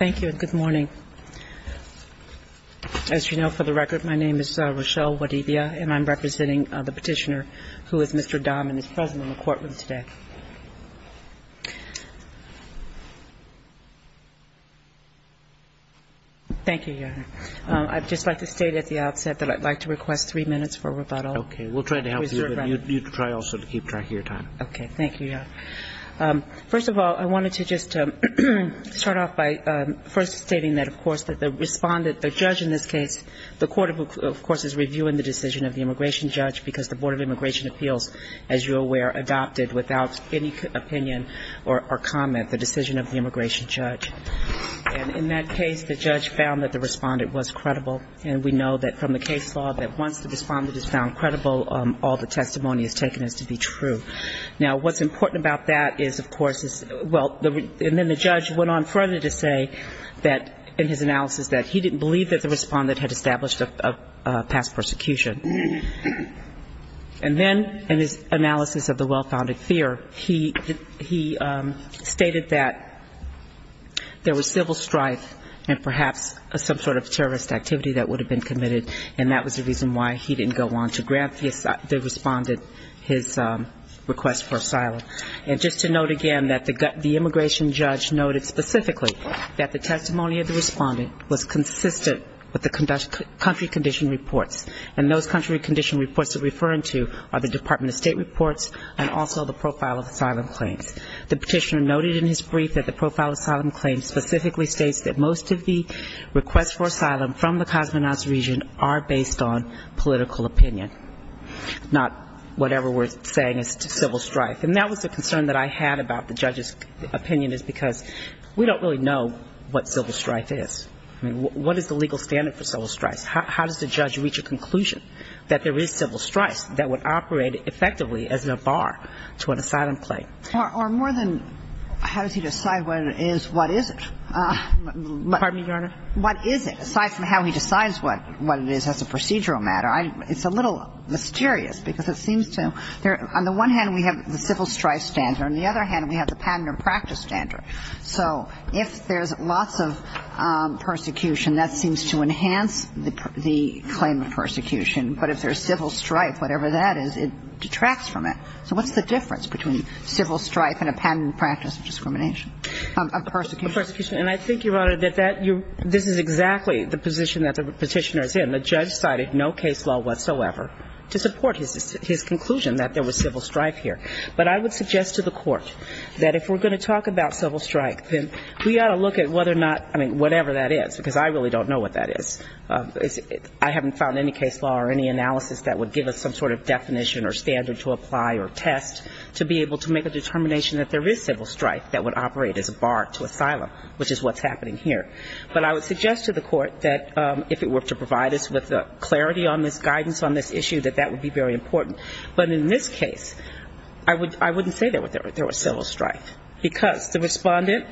As you know, for the record, my name is Rochelle Wadivia, and I'm representing the Petitioner, who is Mr. Ndom, and is present in the courtroom today. Thank you, Your Honor. I'd just like to state at the outset that I'd like to request three minutes for rebuttal. Okay. We'll try to help you, and you try also to keep track of your time. Okay. Thank you, Your Honor. First of all, I wanted to just start off by first stating that, of course, that the respondent, the judge in this case, the court, of course, is reviewing the decision of the immigration judge because the Board of Immigration Appeals, as you're aware, adopted without any opinion or comment the decision of the immigration judge. And in that case, the judge found that the respondent was credible. And we know that from the case law that once the respondent is found credible, all the testimony is taken as to be true. Now, what's important about that is, of course, well, and then the judge went on further to say that in his analysis that he didn't believe that the respondent had established a past persecution. And then in his analysis of the well-founded fear, he stated that there was civil strife and perhaps some sort of terrorist activity that would have been committed, and that was the reason why he didn't go on to grant the respondent his request for asylum. And just to note again that the immigration judge noted specifically that the testimony of the respondent was consistent with the country condition reports. And those country condition reports that we're referring to are the Department of State reports and also the profile of asylum claims. The petitioner noted in his brief that the profile of asylum claims specifically states that most of the requests for asylum from the Cosmonauts region are based on political opinion, not whatever we're saying is civil strife. And that was a concern that I had about the judge's opinion is because we don't really know what civil strife is. I mean, what is the legal standard for civil strife? How does the judge reach a conclusion that there is civil strife that would operate effectively as a bar to an asylum claim? Or more than how does he decide what it is, what is it? Pardon me, Your Honor? What is it? Aside from how he decides what it is as a procedural matter, it's a little mysterious because it seems to – on the one hand, we have the civil strife standard. On the other hand, we have the patent and practice standard. So if there's lots of persecution, that seems to enhance the claim of persecution. But if there's civil strife, whatever that is, it detracts from it. So what's the difference between civil strife and a patent and practice discrimination of persecution? And I think, Your Honor, that this is exactly the position that the Petitioner is in. The judge cited no case law whatsoever to support his conclusion that there was civil strife here. But I would suggest to the Court that if we're going to talk about civil strife, then we ought to look at whether or not – I mean, whatever that is, because I really don't know what that is. I haven't found any case law or any analysis that would give us some sort of definition or standard to apply or test to be able to make a determination that there is civil strife that would operate as a bar to asylum, which is what's happening here. But I would suggest to the Court that if it were to provide us with the clarity on this guidance on this issue, that that would be very important. But in this case, I wouldn't say there was civil strife because the respondent,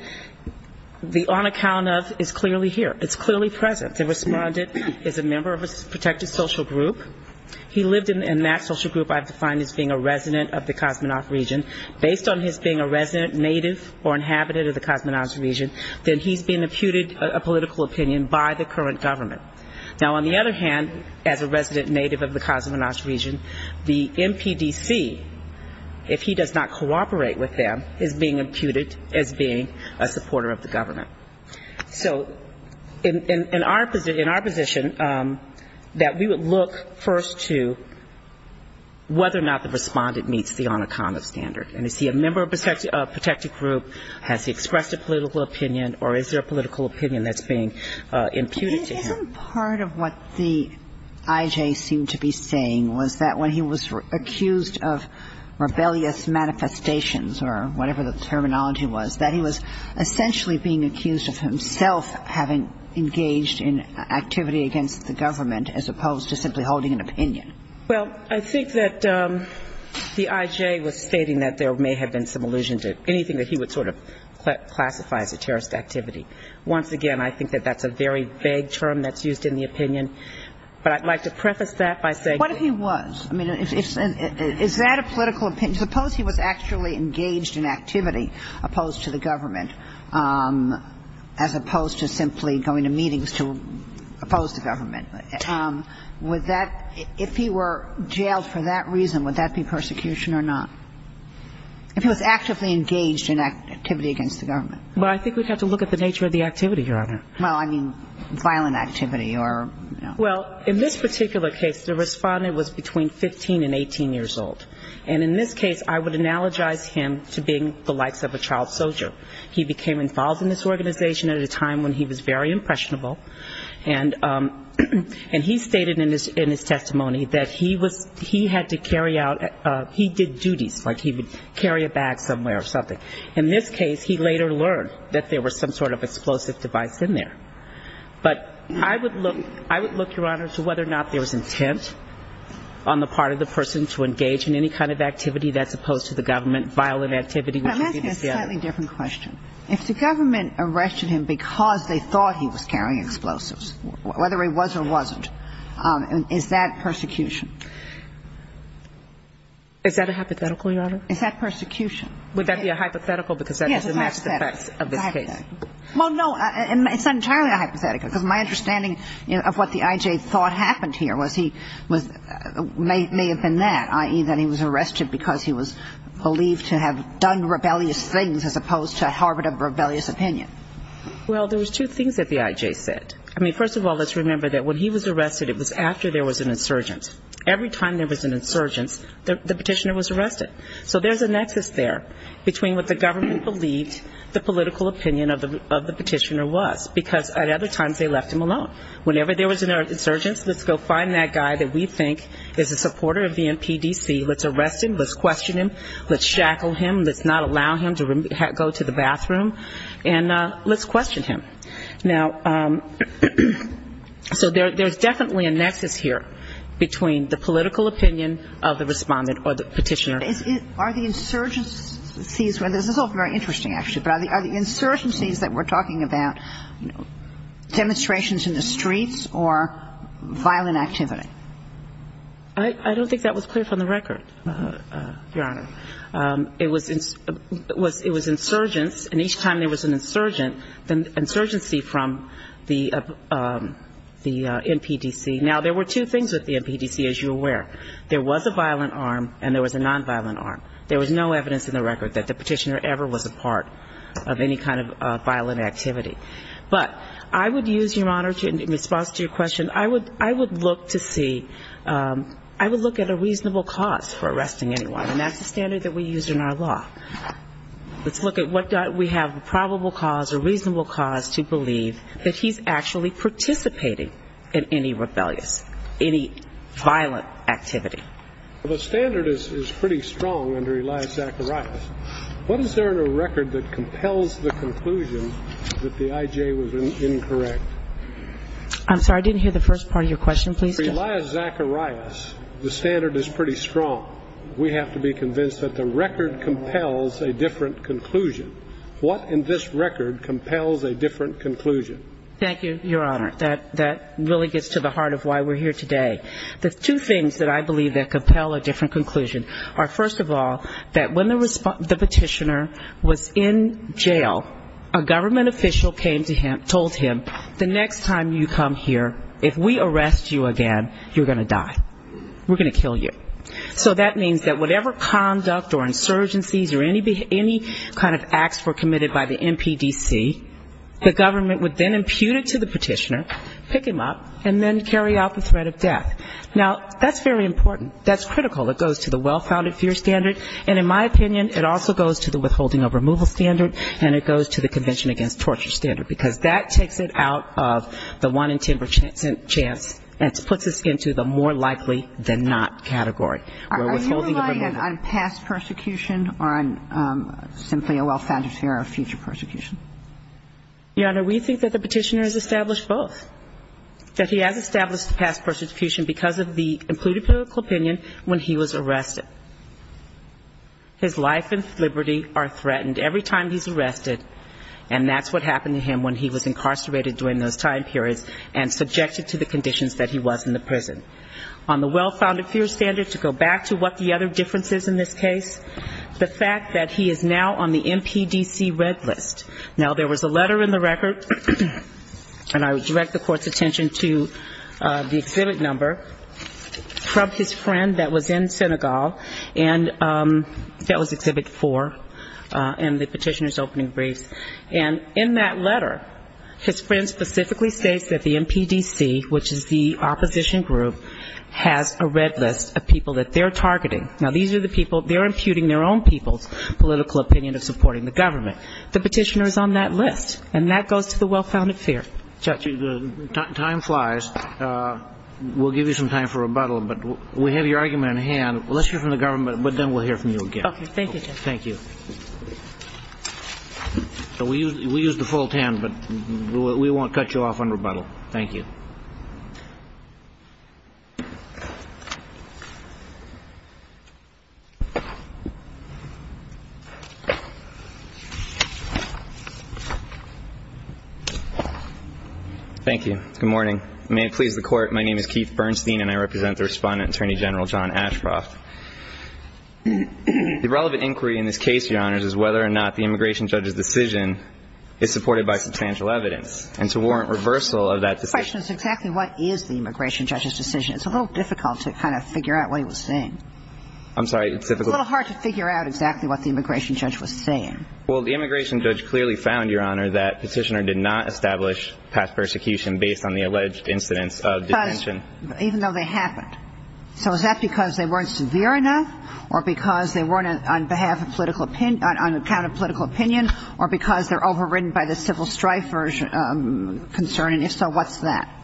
on account of, is clearly here. It's clearly present. The respondent is a member of a protected social group. He lived in that social group I've defined as being a resident of the Kosmonauts region. Based on his being a resident, native or inhabitant of the Kosmonauts region, then he's being imputed a political opinion by the current government. Now, on the other hand, as a resident native of the Kosmonauts region, the MPDC, if he does not cooperate with them, is being imputed as being a supporter of the government. So in our position, that we would look first to whether or not the respondent meets the on account of standard. And is he a member of a protected group? Has he expressed a political opinion? Or is there a political opinion that's being imputed to him? Isn't part of what the I.J. seemed to be saying was that when he was accused of rebellious manifestations or whatever the terminology was, that he was essentially being accused of himself having engaged in activity against the government as opposed to simply holding an opinion? Well, I think that the I.J. was stating that there may have been some allusion to anything that he would sort of classify as a terrorist activity. Once again, I think that that's a very vague term that's used in the opinion. But I'd like to preface that by saying that he was. I mean, is that a political opinion? Suppose he was actually engaged in activity opposed to the government as opposed to simply going to meetings to oppose the government. Would that, if he were jailed for that reason, would that be persecution or not? If he was actively engaged in activity against the government. Well, I think we'd have to look at the nature of the activity, Your Honor. Well, I mean, violent activity or, you know. Well, in this particular case, the respondent was between 15 and 18 years old. And in this case, I would analogize him to being the likes of a child soldier. He became involved in this organization at a time when he was very impressionable. And he stated in his testimony that he had to carry out, he did duties, like he would carry a bag somewhere or something. In this case, he later learned that there was some sort of explosive device in there. But I would look, Your Honor, to whether or not there was intent on the part of the person to engage in any kind of activity that's opposed to the government. Violent activity. But I'm asking a slightly different question. If the government arrested him because they thought he was carrying explosives, whether he was or wasn't, is that persecution? Is that a hypothetical, Your Honor? Is that persecution? Would that be a hypothetical because that has the maximum effects of this case? Well, no. It's not entirely a hypothetical because my understanding of what the I.J. thought happened here was he was, may have been that, i.e., that he was arrested because he was believed to have done rebellious things as opposed to harbored a rebellious opinion. Well, there was two things that the I.J. said. I mean, first of all, let's remember that when he was arrested, it was after there was an insurgent. Every time there was an insurgent, the petitioner was arrested. So there's a nexus there between what the government believed the political opinion of the petitioner was, because at other times they left him alone. Whenever there was an insurgent, let's go find that guy that we think is a supporter of the NPDC. Let's arrest him. Let's question him. Let's shackle him. Let's not allow him to go to the bathroom. And let's question him. Now, so there's definitely a nexus here between the political opinion of the Respondent or the petitioner. Are the insurgencies, this is all very interesting, actually, but are the insurgencies that we're talking about demonstrations in the streets or violent activity? I don't think that was clear from the record, Your Honor. It was insurgents, and each time there was an insurgency from the NPDC. Now, there were two things with the NPDC, as you're aware. There was a violent arm and there was a nonviolent arm. There was no evidence in the record that the petitioner ever was a part of any kind of violent activity. But I would use, Your Honor, in response to your question, I would look to see, I would look at a reasonable cause for arresting anyone. And that's the standard that we use in our law. Let's look at what we have a probable cause or reasonable cause to believe that he's actually participating in any rebellious, any violent activity. Well, the standard is pretty strong under Elias Zacharias. What is there in the record that compels the conclusion that the I.J. was incorrect? I'm sorry, I didn't hear the first part of your question, please. Under Elias Zacharias, the standard is pretty strong. We have to be convinced that the record compels a different conclusion. What in this record compels a different conclusion? Thank you, Your Honor. That really gets to the heart of why we're here today. The two things that I believe that compel a different conclusion are, first of all, that when the petitioner was in jail, a government official came to him, told him, the next time you come here, if we arrest you again, you're going to die. We're going to kill you. So that means that whatever conduct or insurgencies or any kind of acts were committed by the MPDC, the government would then impute it to the petitioner, pick him up, and then carry out the threat of death. Now, that's very important. That's critical. It goes to the well-founded fear standard, and in my opinion, it also goes to the withholding of removal standard, and it goes to the Convention Against Torture Standard, because that takes it out of the one-in-ten percent chance and puts us into the more likely-than-not category. We're withholding of removal. Are you relying on past persecution or on simply a well-founded fear of future persecution? Your Honor, we think that the petitioner has established both, that he has established the past persecution because of the included political opinion when he was arrested. His life and liberty are threatened. Every time he's arrested, and that's what happened to him when he was incarcerated during those time periods and subjected to the conditions that he was in the prison. On the well-founded fear standard, to go back to what the other difference is in this case, the fact that he is now on the MPDC red list. Now, there was a letter in the record, and I would direct the Court's attention to the exhibit number, from his friend that was in Senegal, and that was exhibit four, and the petitioner's opening briefs. And in that letter, his friend specifically states that the MPDC, which is the opposition group, has a red list of people that they're targeting. Now, these are the people, they're imputing their own people's political opinion of supporting the government. The petitioner is on that list, and that goes to the well-founded fear. Time flies. We'll give you some time for rebuttal, but we have your argument on hand. Let's hear from the government, but then we'll hear from you again. Okay. Thank you, Justice. Thank you. We'll use the full ten, but we won't cut you off on rebuttal. Thank you. Thank you. Good morning. May it please the Court, my name is Keith Bernstein, and I represent the Respondent Attorney General John Ashcroft. The relevant inquiry in this case, Your Honors, is whether or not the immigration judge's decision is supported by substantial evidence, and to warrant reversal of that decision. The question is exactly what is the immigration judge's decision. It's a little difficult to kind of figure out what he was saying. I'm sorry. It's a little hard to figure out exactly what the immigration judge was saying. Well, the immigration judge clearly found, Your Honor, that Petitioner did not establish past persecution based on the alleged incidents of detention. But even though they happened. So is that because they weren't severe enough, or because they weren't on behalf of political opinion, on account of political opinion, or because they're overridden by the civil strifer's concern? And if so, what's that?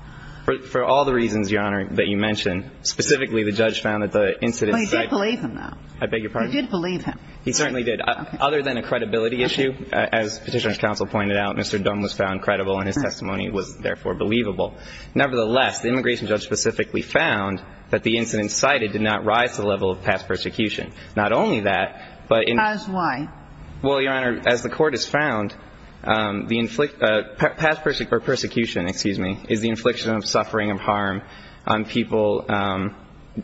For all the reasons, Your Honor, that you mentioned. Specifically, the judge found that the incidents. Well, he did believe him, though. I beg your pardon? He did believe him. He certainly did. Other than a credibility issue, as Petitioner's counsel pointed out, Mr. Dunn was found credible, and his testimony was, therefore, believable. Nevertheless, the immigration judge specifically found that the incidents cited did not rise to the level of past persecution. Not only that, but in. As why? Well, Your Honor, as the Court has found, the past persecution, excuse me, is the infliction of suffering of harm on people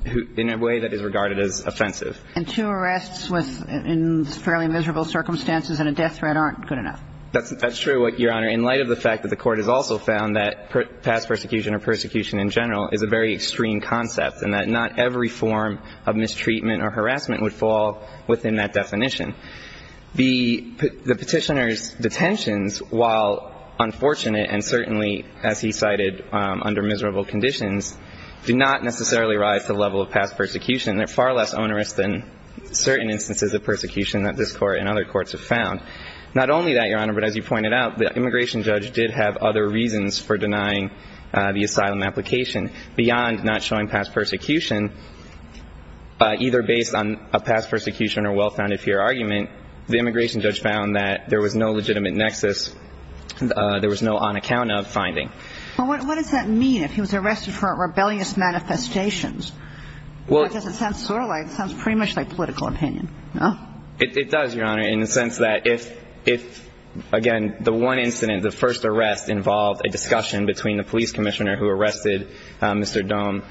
in a way that is regarded as offensive. And two arrests in fairly miserable circumstances and a death threat aren't good enough. That's true, Your Honor, in light of the fact that the Court has also found that past persecution or persecution in general is a very extreme concept, and that not every form of mistreatment or harassment would fall within that definition. The Petitioner's detentions, while unfortunate and certainly, as he cited, under miserable conditions, do not necessarily rise to the level of past persecution. They're far less onerous than certain instances of persecution that this Court and other courts have found. Not only that, Your Honor, but as you pointed out, the immigration judge did have other reasons for denying the asylum application beyond not showing past persecution, either based on a past persecution or well-founded fear argument. The immigration judge found that there was no legitimate nexus. There was no on-account-of finding. Well, what does that mean if he was arrested for rebellious manifestations? Because it sounds sort of like, it sounds pretty much like political opinion. It does, Your Honor, in the sense that if, again, the one incident, the first arrest, involved a discussion between the police commissioner who arrested Mr. Dohm,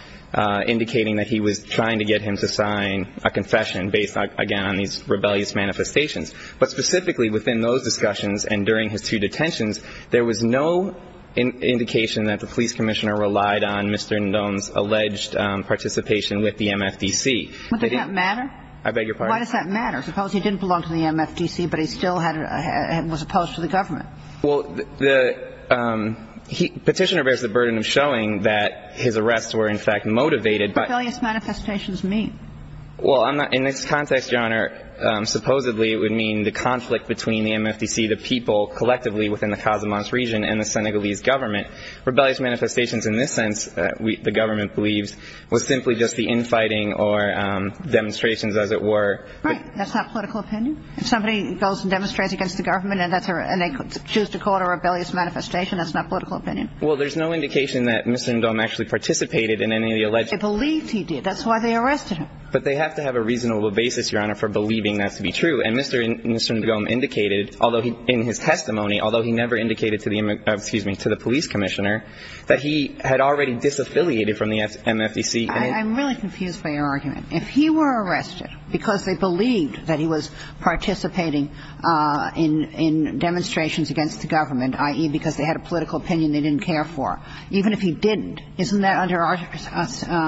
indicating that he was trying to get him to sign a confession based, again, on these rebellious manifestations. But specifically within those discussions and during his two detentions, there was no indication that the police commissioner relied on Mr. Dohm's alleged participation with the MFDC. But did that matter? I beg your pardon? Why does that matter? Suppose he didn't belong to the MFDC, but he still was opposed to the government. Well, the Petitioner bears the burden of showing that his arrests were, in fact, motivated by What do rebellious manifestations mean? Well, in this context, Your Honor, supposedly it would mean the conflict between the MFDC, the people collectively within the Casamance region, and the Senegalese government. Rebellious manifestations in this sense, the government believes, was simply just the infighting or demonstrations, as it were. Right. That's not political opinion? If somebody goes and demonstrates against the government, and they choose to call it a rebellious manifestation, that's not political opinion? Well, there's no indication that Mr. Dohm actually participated in any of the alleged They believed he did. That's why they arrested him. But they have to have a reasonable basis, Your Honor, for believing that to be true. And Mr. Dohm indicated in his testimony, although he never indicated to the police commissioner, that he had already disaffiliated from the MFDC. I'm really confused by your argument. If he were arrested because they believed that he was participating in demonstrations against the government, i.e., because they had a political opinion they didn't care for, even if he didn't, isn't that under our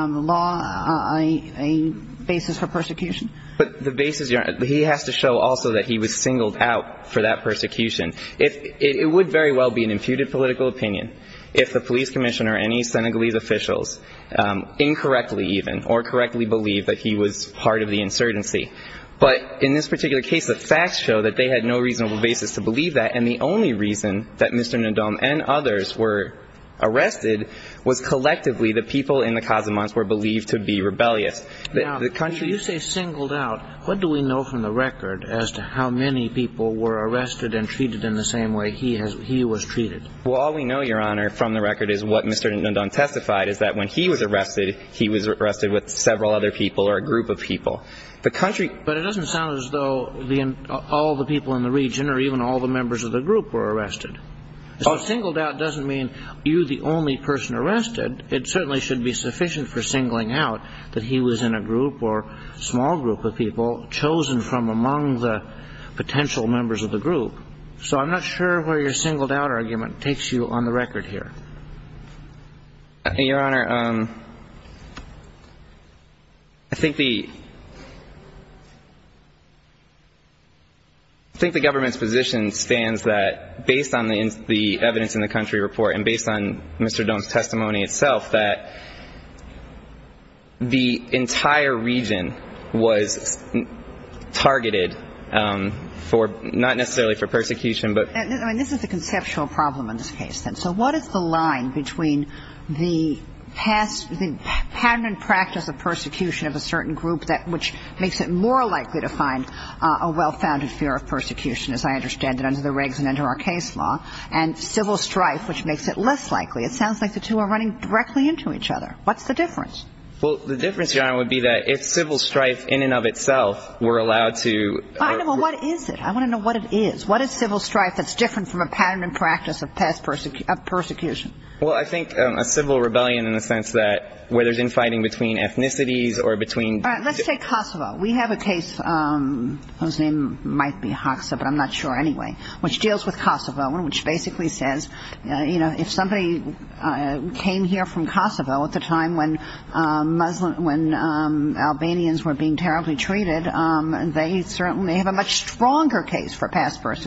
law a basis for persecution? But the basis, Your Honor, he has to show also that he was singled out for that persecution. It would very well be an imputed political opinion if the police commissioner and any Senegalese officials incorrectly even or correctly believed that he was part of the insurgency. But in this particular case, the facts show that they had no reasonable basis to believe that. And the only reason that Mr. Ndom and others were arrested was collectively the people in the Casamance were believed to be rebellious. Now, when you say singled out, what do we know from the record as to how many people were arrested and treated in the same way he was treated? Well, all we know, Your Honor, from the record is what Mr. Ndom testified, is that when he was arrested, he was arrested with several other people or a group of people. But it doesn't sound as though all the people in the region or even all the members of the group were arrested. So singled out doesn't mean you're the only person arrested. It certainly shouldn't be sufficient for singling out that he was in a group or small group of people chosen from among the potential members of the group. So I'm not sure where your singled out argument takes you on the record here. Your Honor, I think the government's position stands that based on the evidence in the country report and based on Mr. Ndom's testimony itself, that the entire region was targeted for not necessarily for persecution. I mean, this is the conceptual problem in this case, then. So what is the line between the pattern and practice of persecution of a certain group, which makes it more likely to find a well-founded fear of persecution, as I understand it under the Riggs and under our case law, and civil strife, which makes it less likely? It sounds like the two are running directly into each other. What's the difference? Well, the difference, Your Honor, would be that if civil strife in and of itself were allowed to... Well, what is it? I want to know what it is. What is civil strife that's different from a pattern and practice of persecution? Well, I think a civil rebellion in the sense that where there's infighting between ethnicities or between... All right. Let's take Kosovo. We have a case whose name might be Hoxha, but I'm not sure anyway, which deals with Kosovo and which basically says, you know, if somebody came here from Kosovo at the time when Albanians were being terribly treated, they certainly have a much stronger case for persecution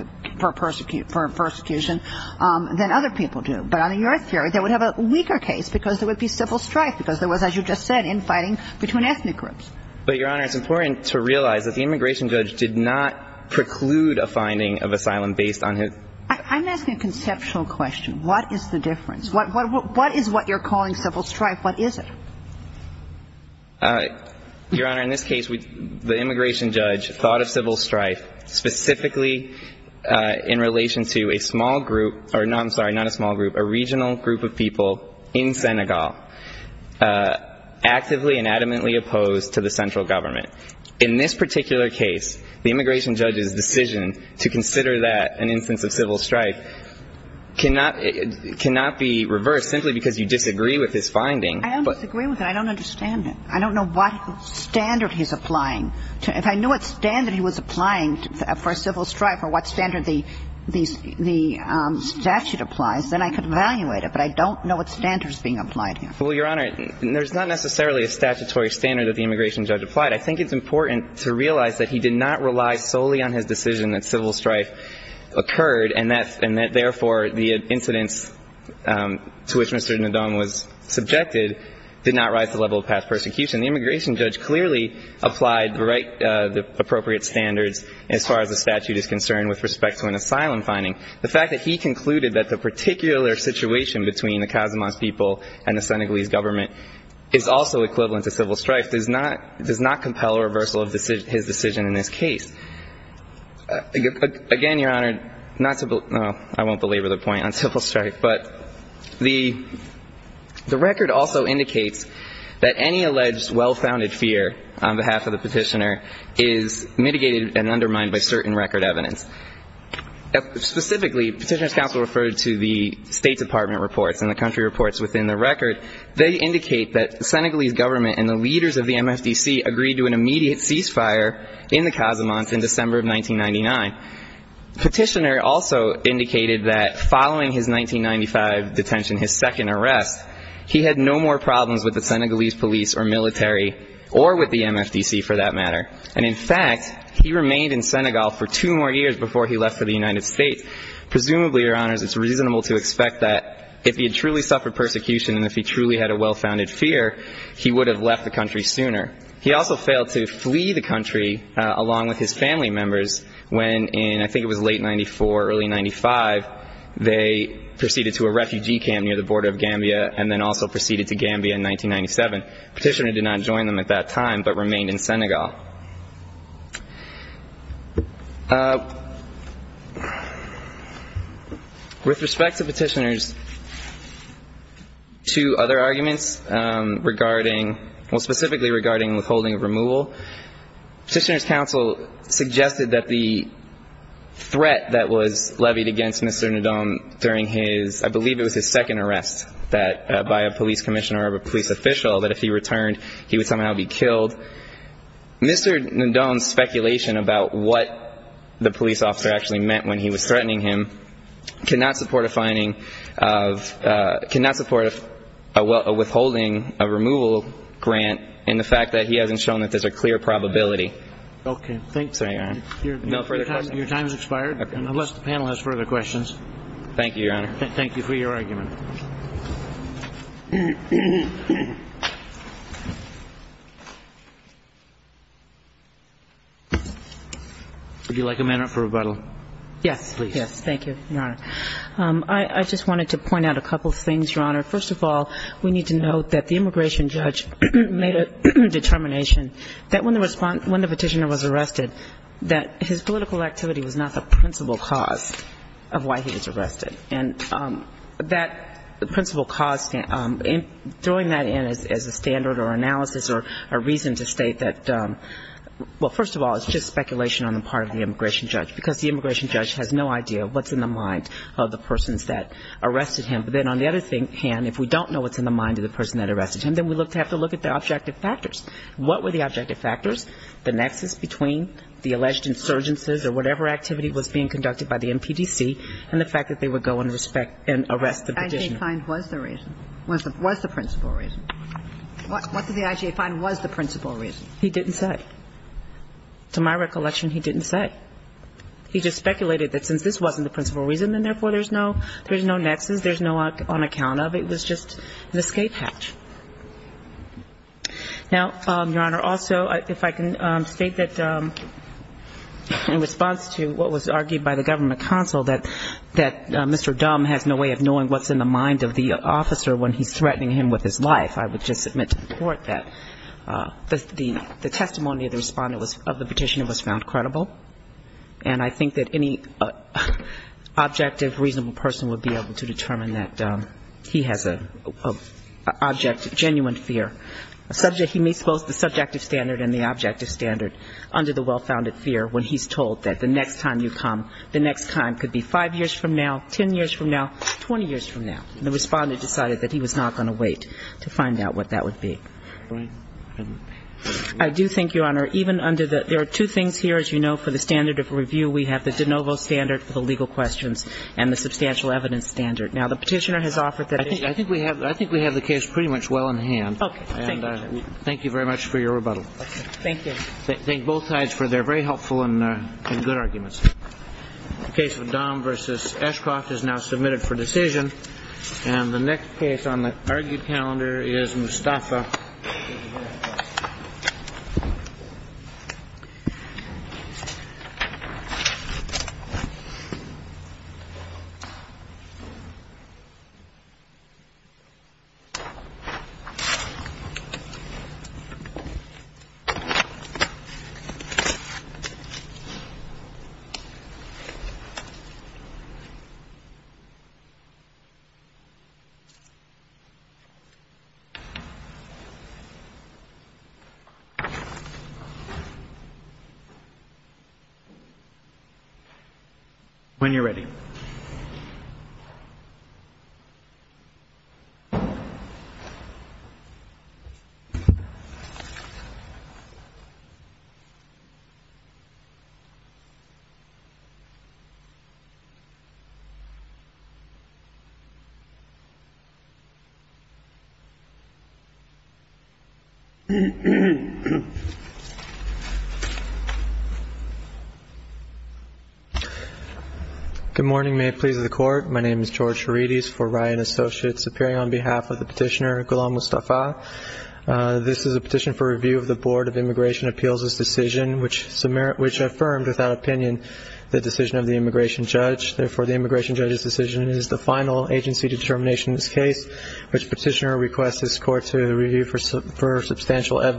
than other people do. But under your theory, they would have a weaker case because there would be civil strife because there was, as you just said, infighting between ethnic groups. But, Your Honor, it's important to realize that the immigration judge did not preclude a finding of asylum based on his... I'm asking a conceptual question. What is the difference? What is what you're calling civil strife? What is it? Your Honor, in this case, the immigration judge thought of civil strife specifically in relation to a small group, or no, I'm sorry, not a small group, a regional group of people in Senegal, actively and adamantly opposed to the central government. In this particular case, the immigration judge's decision to consider that an instance of civil strife cannot be reversed simply because you disagree with his finding. I don't disagree with it. I don't understand it. I don't know what standard he's applying. If I knew what standard he was applying for civil strife or what standard the statute applies, then I could evaluate it. But I don't know what standard is being applied here. Well, Your Honor, there's not necessarily a statutory standard that the immigration judge applied. I think it's important to realize that he did not rely solely on his decision that civil strife occurred and that, therefore, the incidents to which Mr. Ndung was subjected did not rise the level of past persecution. The immigration judge clearly applied the right, the appropriate standards as far as the statute is concerned with respect to an asylum finding. The fact that he concluded that the particular situation between the Casamance people and the Senegalese government is also equivalent to civil strife does not compel a reversal of his decision in this case. Again, Your Honor, not to believe – well, I won't belabor the point on civil strife, but the record also indicates that any alleged well-founded fear on behalf of the petitioner is mitigated and undermined by certain record evidence. Specifically, Petitioner's counsel referred to the State Department reports and the country reports within the record. They indicate that the Senegalese government and the leaders of the MFDC agreed to an immediate ceasefire in the Casamance in December of 1999. Petitioner also indicated that following his 1995 detention, his second arrest, he had no more problems with the Senegalese police or military or with the MFDC, for that matter. And in fact, he remained in Senegal for two more years before he left for the United States. Presumably, Your Honors, it's reasonable to expect that if he had truly suffered persecution and if he truly had a well-founded fear, he would have left the country sooner. He also failed to flee the country along with his family members when, in I think it was late 1994, early 1995, they proceeded to a refugee camp near the border of Gambia and then also proceeded to Gambia in 1997. Petitioner did not join them at that time but remained in Senegal. With respect to Petitioner's two other arguments regarding – well, specifically regarding withholding of removal, Petitioner's counsel suggested that the threat that was levied against Mr. Ndom during his – that by a police commissioner or a police official, that if he returned, he would somehow be killed. Mr. Ndom's speculation about what the police officer actually meant when he was threatening him cannot support a finding of – cannot support a withholding of removal grant in the fact that he hasn't shown that there's a clear probability. Okay. Thanks, Your Honor. No further questions. Your time has expired, unless the panel has further questions. Thank you, Your Honor. Thank you for your argument. Would you like a minute for rebuttal? Yes, please. Yes, thank you, Your Honor. I just wanted to point out a couple of things, Your Honor. First of all, we need to note that the immigration judge made a determination that when the petitioner was arrested, that his political activity was not the principal cause of why he was arrested. And that principal cause, throwing that in as a standard or analysis or a reason to state that, well, first of all, it's just speculation on the part of the immigration judge, because the immigration judge has no idea what's in the mind of the persons that arrested him. But then on the other hand, if we don't know what's in the mind of the person that arrested him, then we have to look at the objective factors. What were the objective factors? The nexus between the alleged insurgencies or whatever activity was being conducted by the NPDC and the fact that they would go and arrest the petitioner. The IJA find was the reason, was the principal reason. What did the IJA find was the principal reason? He didn't say. To my recollection, he didn't say. He just speculated that since this wasn't the principal reason and therefore there's no nexus, there's no on account of, it was just an escape hatch. Now, Your Honor, also, if I can state that in response to what was argued by the Government Counsel that Mr. Dumb has no way of knowing what's in the mind of the officer when he's threatening him with his life, I would just submit to the Court that the testimony of the respondent of the petitioner was found credible. And I think that any objective, reasonable person would be able to determine that he has a genuine fear. He meets both the subjective standard and the objective standard under the well-founded fear when he's told that the next time you come, the next time could be 5 years from now, 10 years from now, 20 years from now. And the respondent decided that he was not going to wait to find out what that would be. I do think, Your Honor, even under the ‑‑ there are two things here, as you know, for the standard of review. We have the de novo standard for the legal questions and the substantial evidence standard. Now, the petitioner has offered that ‑‑ I think we have the case pretty much well in hand. Okay. Thank you. Thank you very much for your rebuttal. Thank you. Thank both sides for their very helpful and good arguments. The case of Dahm v. Eshcroft is now submitted for decision. When you're ready. Thank you. Good morning. May it please the Court. My name is George Herides for Ryan Associates, appearing on behalf of the petitioner, Ghulam Mustafa. This is a petition for review of the Board of Immigration Appeals' decision, which affirmed, without opinion, the decision of the immigration judge. Therefore, the immigration judge's decision is the final agency determination of this case, which petitioner requests this Court to review for substantial evidence.